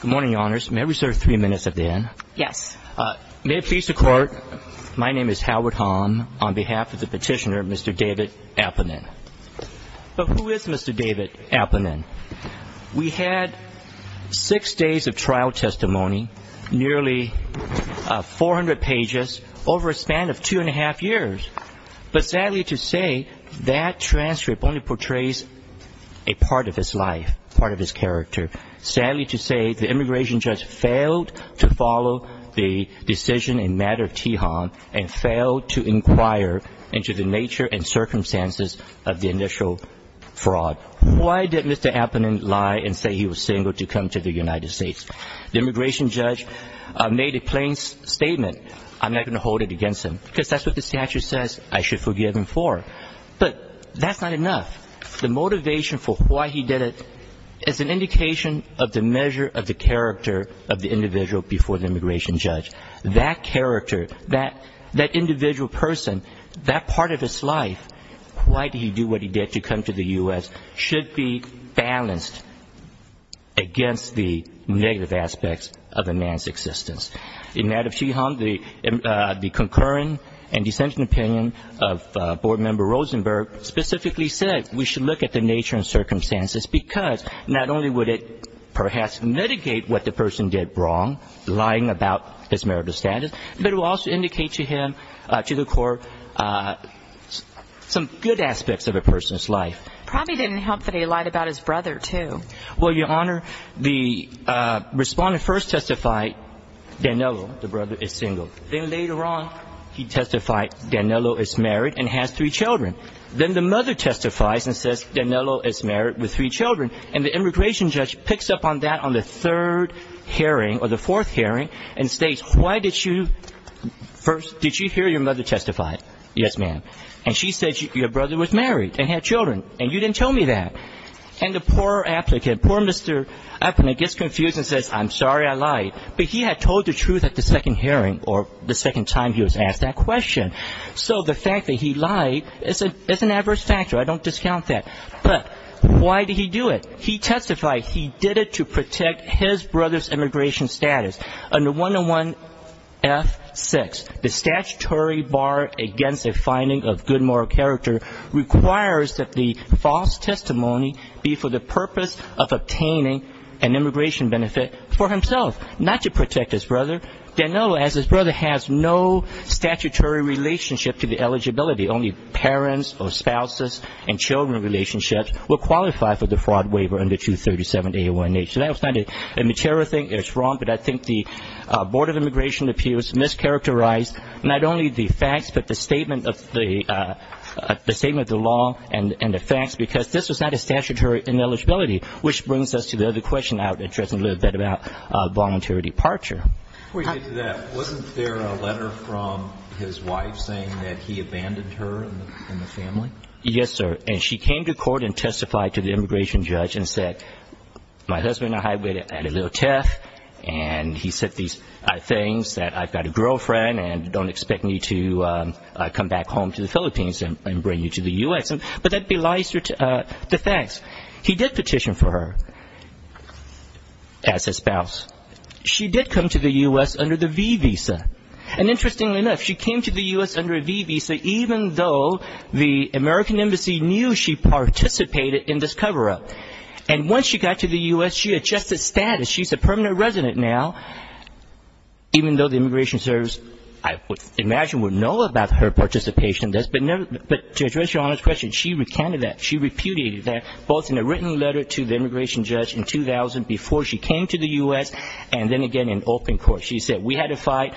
Good morning, Your Honors. May I reserve three minutes at the end? Yes. May it please the Court, my name is Howard Hom, on behalf of the petitioner, Mr. David Amponin. But who is Mr. David Amponin? We had six days of trial testimony, nearly 400 pages, over a span of two and a half years. But sadly to say, that transcript only portrays a part of his life, part of his character. Sadly to say, the immigration judge failed to follow the decision in matter of Tihon, and failed to inquire into the nature and circumstances of the initial fraud. Why did Mr. Amponin lie and say he was single to come to the United States? The immigration judge made a plain statement, I'm not going to hold it against him, because that's what the statute says I should forgive him for. But that's not enough. The motivation for why he did it is an indication of the measure of the character of the individual before the immigration judge. That character, that individual person, that part of his life, why did he do what he did to come to the U.S., should be balanced against the negative aspects of a man's existence. In matter of Tihon, the concurring and dissenting opinion of board member Rosenberg specifically said, we should look at the nature and circumstances, because not only would it perhaps mitigate what the person did wrong, lying about his marital status, but it will also indicate to him, to the court, some good aspects of a person's life. Probably didn't help that he lied about his brother, too. Well, Your Honor, the Respondent first testified Daniello, the brother, is single. Then later on, he testified Daniello is married and has three children. Then the mother testifies and says Daniello is married with three children, and the immigration judge picks up on that on the third hearing or the fourth hearing and states, why did you first, did you hear your mother testify? Yes, ma'am. And she said your brother was married and had children, and you didn't tell me that. And the poor applicant, poor Mr. Appleton gets confused and says, I'm sorry I lied. But he had told the truth at the second hearing or the second time he was asked that question. So the fact that he lied is an adverse factor. I don't discount that. But why did he do it? He testified he did it to protect his brother's immigration status. Under 101F6, the statutory bar against a finding of good moral character requires that the false testimony be for the purpose of obtaining an immigration benefit for himself, not to protect his brother. Daniello, as his brother, has no statutory relationship to the eligibility. Only parents or spouses and children relationships will qualify for the fraud waiver under 237A1H. So that was not a material thing. It's wrong, but I think the Board of Immigration Appeals mischaracterized not only the facts but the statement of the law and the facts because this was not a statutory ineligibility, which brings us to the other question I would address in a little bit about voluntary departure. Before you get to that, wasn't there a letter from his wife saying that he abandoned her and the family? Yes, sir. And she came to court and testified to the immigration judge and said, my husband and I had a little tiff, and he said these things, that I've got a girlfriend and don't expect me to come back home to the Philippines and bring you to the U.S. But that belies the facts. He did petition for her as his spouse. She did come to the U.S. under the V visa. And interestingly enough, she came to the U.S. under a V visa even though the American Embassy knew she participated in this cover-up. And once she got to the U.S., she adjusted status. She's a permanent resident now, even though the immigration service, I would imagine, would know about her participation in this. But to address Your Honor's question, she recounted that. She repudiated that, both in a written letter to the immigration judge in 2000, before she came to the U.S., and then again in open court. She said, we had a fight,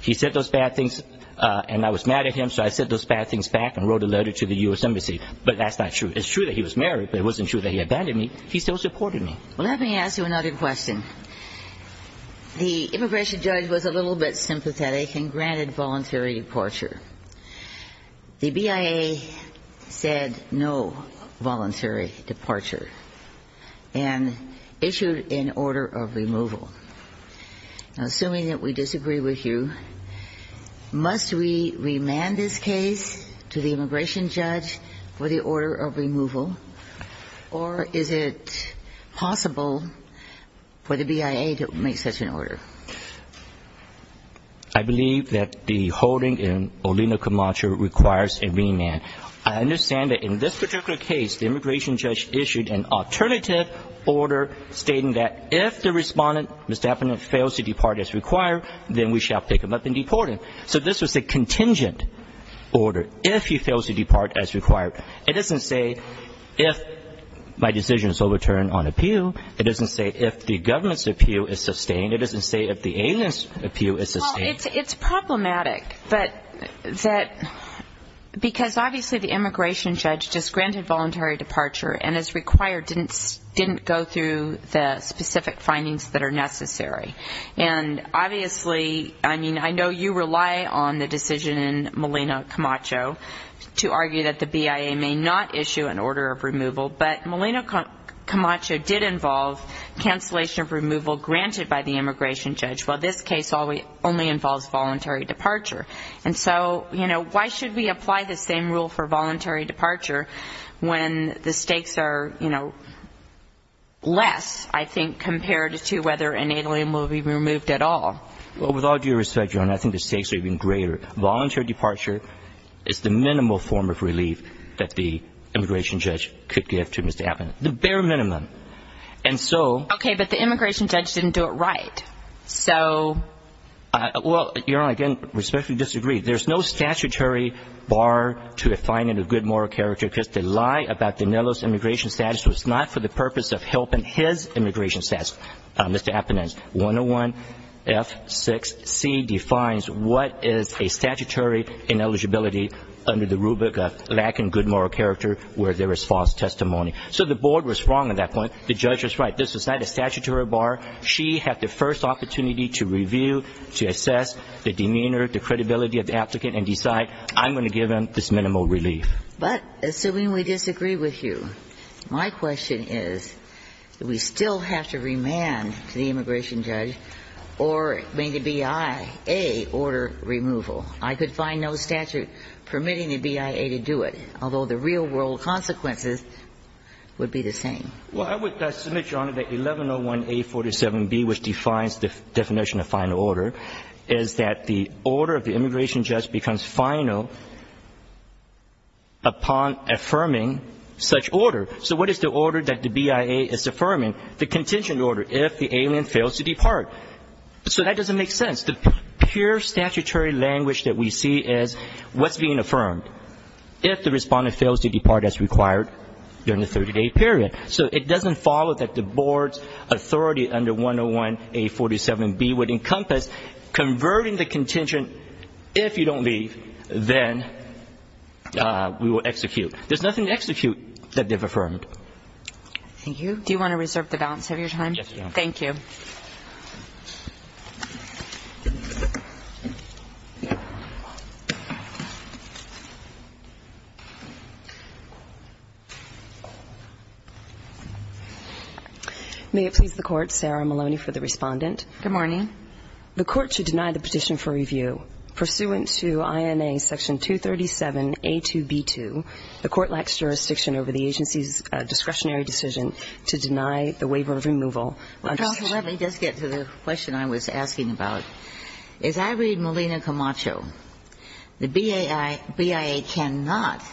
he said those bad things, and I was mad at him, so I said those bad things back and wrote a letter to the U.S. Embassy. But that's not true. It's true that he was married, but it wasn't true that he abandoned me. He still supported me. Well, let me ask you another question. The immigration judge was a little bit sympathetic and granted voluntary departure. The BIA said no voluntary departure and issued an order of removal. Now, assuming that we disagree with you, must we remand this case to the immigration judge for the order of removal, or is it possible for the BIA to make such an order? I believe that the holding in Olino-Camacho requires a remand. I understand that in this particular case, the immigration judge issued an alternative order stating that if the respondent fails to depart as required, then we shall pick him up and deport him. So this was a contingent order. If he fails to depart as required, it doesn't say if my decision is overturned on appeal. It doesn't say if the government's appeal is sustained. It doesn't say if the alien's appeal is sustained. Well, it's problematic, because obviously the immigration judge just granted voluntary departure and as required didn't go through the specific findings that are necessary. And obviously, I mean, I know you rely on the decision in Molina-Camacho to argue that the BIA may not issue an order of removal, but Molina-Camacho did involve cancellation of removal granted by the immigration judge, while this case only involves voluntary departure. And so, you know, why should we apply the same rule for voluntary departure when the stakes are, you know, less, I think, compared to whether an alien will be removed at all? Well, with all due respect, Your Honor, I think the stakes are even greater. Voluntary departure is the minimal form of relief that the immigration judge could give to Mr. Abinant. The bare minimum. And so... Okay, but the immigration judge didn't do it right. So... Well, Your Honor, again, respectfully disagree. There's no statutory bar to defining a good moral character because the lie about Daniello's immigration status was not for the purpose of helping his immigration status. Mr. Abinant, 101F6C defines what is a statutory ineligibility under the rubric of lacking good moral character where there is false testimony. So the board was wrong at that point. The judge was right. This was not a statutory bar. She had the first opportunity to review, to assess the demeanor, the credibility of the applicant and decide, I'm going to give him this minimal relief. But assuming we disagree with you, my question is, do we still have to remand to the immigration judge or make a BIA order removal? I could find no statute permitting the BIA to do it, although the real-world consequences would be the same. Well, I would submit, Your Honor, that 1101A47B, which defines the definition of final order, is that the order of the immigration judge becomes final upon affirming such order. So what is the order that the BIA is affirming? The contingent order, if the alien fails to depart. So that doesn't make sense. The pure statutory language that we see is what's being affirmed if the respondent fails to depart as required during the 30-day period. So it doesn't follow that the board's authority under 101A47B would encompass converting the contingent. If you don't leave, then we will execute. There's nothing to execute that they've affirmed. Thank you. Do you want to reserve the balance of your time? Yes, Your Honor. Thank you. May it please the Court, Sarah Maloney for the respondent. Good morning. The Court should deny the petition for review. Pursuant to INA Section 237A2B2, the Court lacks jurisdiction over the agency's discretionary decision to deny the waiver of removal. Counsel, let me just get to the question I was asking about. As I read Molina Camacho, the BIA cannot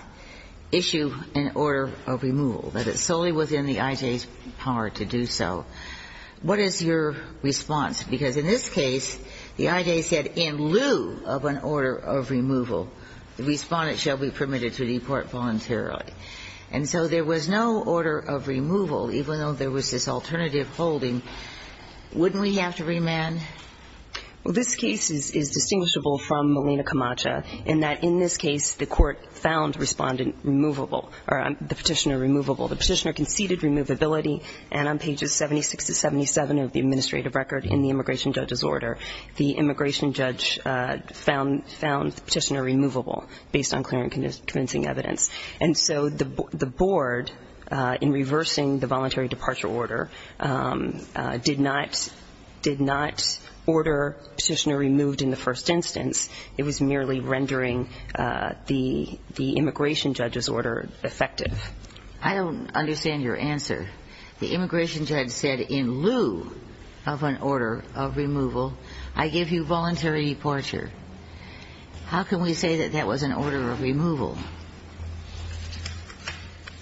issue an order of removal. That it's solely within the IJ's power to do so. What is your response? Because in this case, the IJ said in lieu of an order of removal, the respondent shall be permitted to depart voluntarily. And so there was no order of removal, even though there was this alternative holding. Wouldn't we have to remand? Well, this case is distinguishable from Molina Camacho in that in this case, the Court found respondent removable, or the petitioner removable. The petitioner conceded removability, and on pages 76 to 77 of the administrative record in the immigration judge's order, the immigration judge found the petitioner removable based on clear and convincing evidence. And so the board, in reversing the voluntary departure order, did not order petitioner removed in the first instance. It was merely rendering the immigration judge's order effective. I don't understand your answer. The immigration judge said in lieu of an order of removal, I give you voluntary departure. How can we say that that was an order of removal?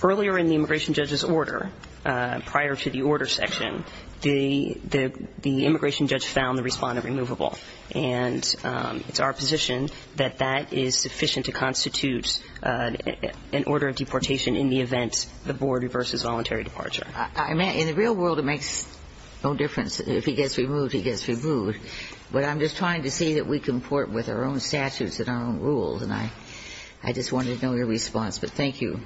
Earlier in the immigration judge's order, prior to the order section, the immigration judge found the respondent removable. And it's our position that that is sufficient to constitute an order of deportation in the event the board reverses voluntary departure. In the real world, it makes no difference. If he gets removed, he gets removed. But I'm just trying to see that we comport with our own statutes and our own rules. And I just wanted to know your response. But thank you.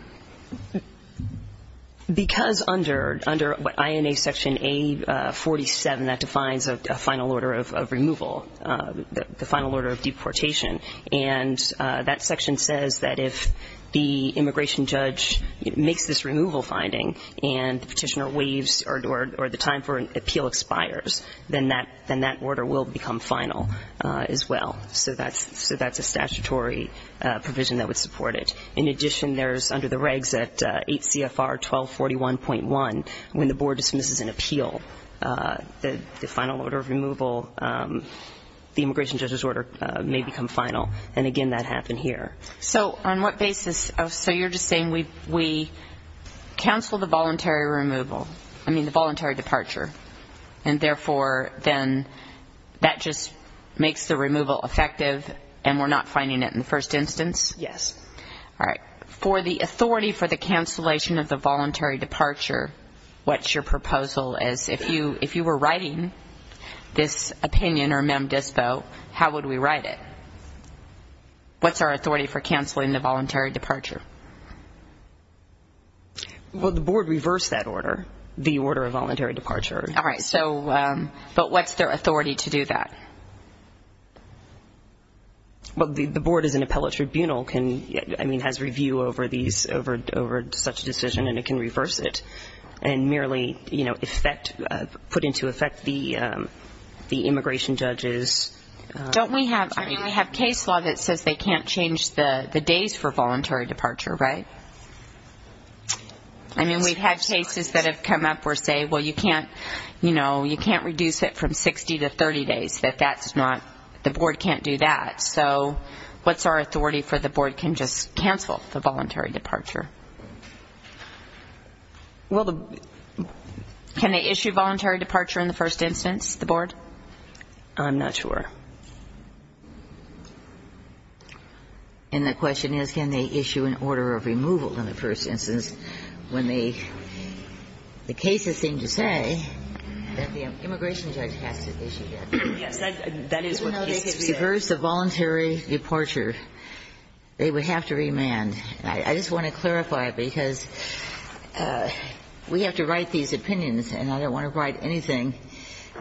Because under INA section A-47, that defines a final order of removal, the final order of deportation. And that section says that if the immigration judge makes this removal finding and the petitioner waives or the time for an appeal expires, then that order will become final as well. So that's a statutory provision that would support it. In addition, there's under the regs at 8 CFR 1241.1, when the board dismisses an appeal, the final order of removal, the immigration judge's order may become final. And, again, that happened here. So on what basis? So you're just saying we counsel the voluntary removal, I mean the voluntary departure. And, therefore, then that just makes the removal effective and we're not finding it in the first instance? Yes. All right. For the authority for the cancellation of the voluntary departure, what's your proposal? If you were writing this opinion or mem dispo, how would we write it? What's our authority for canceling the voluntary departure? Well, the board reversed that order, the order of voluntary departure. All right. So but what's their authority to do that? Well, the board as an appellate tribunal can, I mean, has review over these, over such a decision and it can reverse it and merely, you know, effect, put into effect the immigration judge's. Don't we have, I mean, we have case law that says they can't change the days for voluntary departure, right? I mean, we've had cases that have come up or say, well, you can't, you know, you can't reduce it from 60 to 30 days, that that's not, the board can't do that. So what's our authority for the board can just cancel the voluntary departure? Well, can they issue voluntary departure in the first instance, the board? I'm not sure. And the question is, can they issue an order of removal in the first instance when they, the cases seem to say that the immigration judge has to issue that. Yes. That is what the case is. Even though they can reverse the voluntary departure, they would have to remand. I just want to clarify, because we have to write these opinions and I don't want to write anything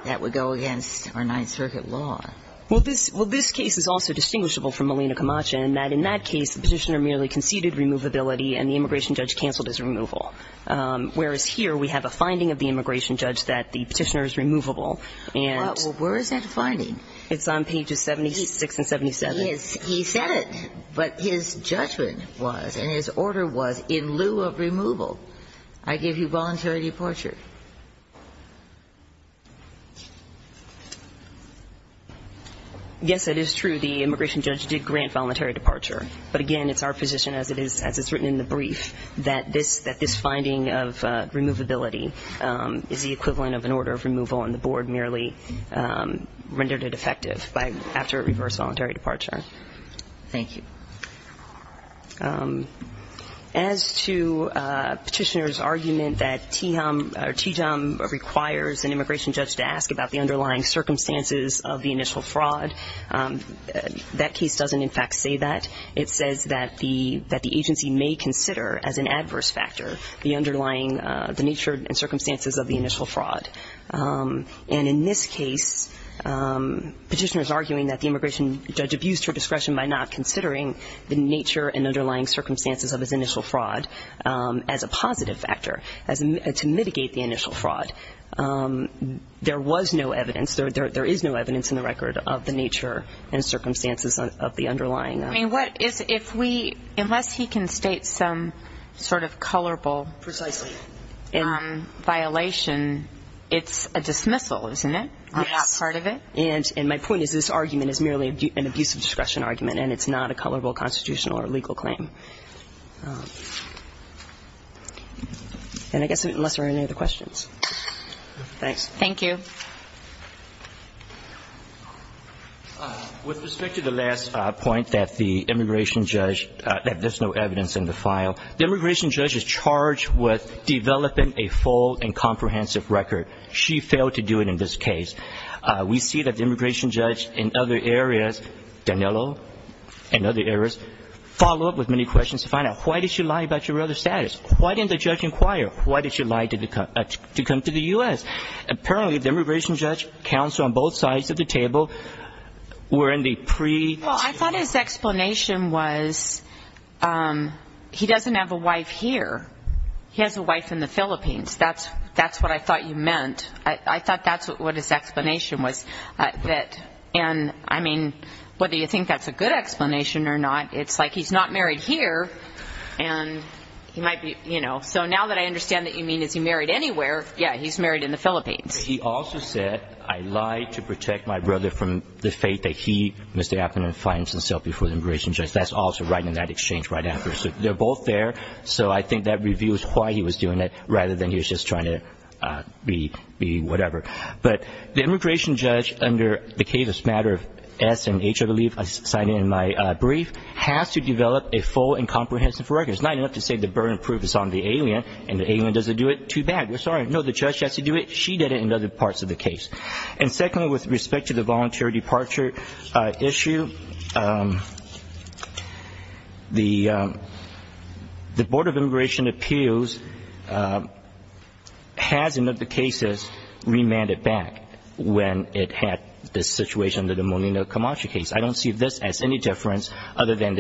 that would go against our Ninth Circuit law. Well, this case is also distinguishable from Molina Camacho in that in that case, the petitioner merely conceded removability and the immigration judge canceled his removal. Whereas here, we have a finding of the immigration judge that the petitioner is removable. Well, where is that finding? It's on pages 76 and 77. He said it, but his judgment was, and his order was, in lieu of removal, I give you voluntary departure. Yes, it is true. The immigration judge did grant voluntary departure. But, again, it's our position, as it's written in the brief, that this finding of removability is the equivalent of an order of removal and the board merely rendered it effective after a reverse voluntary departure. Thank you. As to petitioner's argument that Tejom requires an immigration judge to ask about the underlying circumstances of the initial fraud, that case doesn't, in fact, say that. It says that the agency may consider as an adverse factor the underlying nature and circumstances of the initial fraud. And in this case, petitioner is arguing that the immigration judge abused her discretion in considering the nature and underlying circumstances of his initial fraud as a positive factor, to mitigate the initial fraud. There was no evidence, there is no evidence in the record of the nature and circumstances of the underlying. I mean, what is, if we, unless he can state some sort of colorable violation, it's a dismissal, isn't it, on that part of it? Yes. And my point is this argument is merely an abusive discretion argument, and it's not a colorable constitutional or legal claim. And I guess, unless there are any other questions. Thanks. Thank you. With respect to the last point that the immigration judge, that there's no evidence in the file, the immigration judge is charged with developing a full and comprehensive record. She failed to do it in this case. We see that the immigration judge in other areas, Danilo and other areas, follow up with many questions to find out why did she lie about your other status? Why didn't the judge inquire? Why did she lie to come to the U.S.? Apparently, the immigration judge counts on both sides of the table were in the pre- Well, I thought his explanation was he doesn't have a wife here. He has a wife in the Philippines. That's what I thought you meant. I thought that's what his explanation was. And, I mean, whether you think that's a good explanation or not, it's like he's not married here and he might be, you know. So now that I understand that you mean is he married anywhere, yeah, he's married in the Philippines. He also said, I lied to protect my brother from the fate that he, Mr. Abner, finds himself before the immigration judge. That's also right in that exchange right after. So they're both there. So I think that reveals why he was doing it rather than he was just trying to be whatever. But the immigration judge under the case of Smatter of S and H, I believe, I signed it in my brief, has to develop a full and comprehensive record. It's not enough to say the burden of proof is on the alien and the alien doesn't do it. Too bad. We're sorry. No, the judge has to do it. She did it in other parts of the case. And secondly, with respect to the voluntary departure issue, the Board of Immigration Appeals has, in other cases, remanded back when it had this situation under the Molina Camacho case. I don't see this as any difference other than,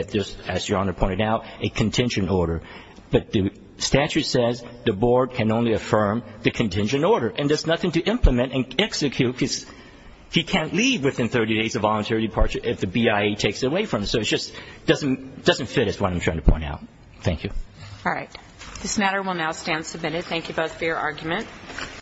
as Your Honor pointed out, a contingent order. But the statute says the board can only affirm the contingent order, and there's nothing to implement and execute because he can't leave within 30 days of voluntary departure if the BIA takes it away from him. So it just doesn't fit is what I'm trying to point out. Thank you. All right. This matter will now stand submitted. Thank you both for your argument.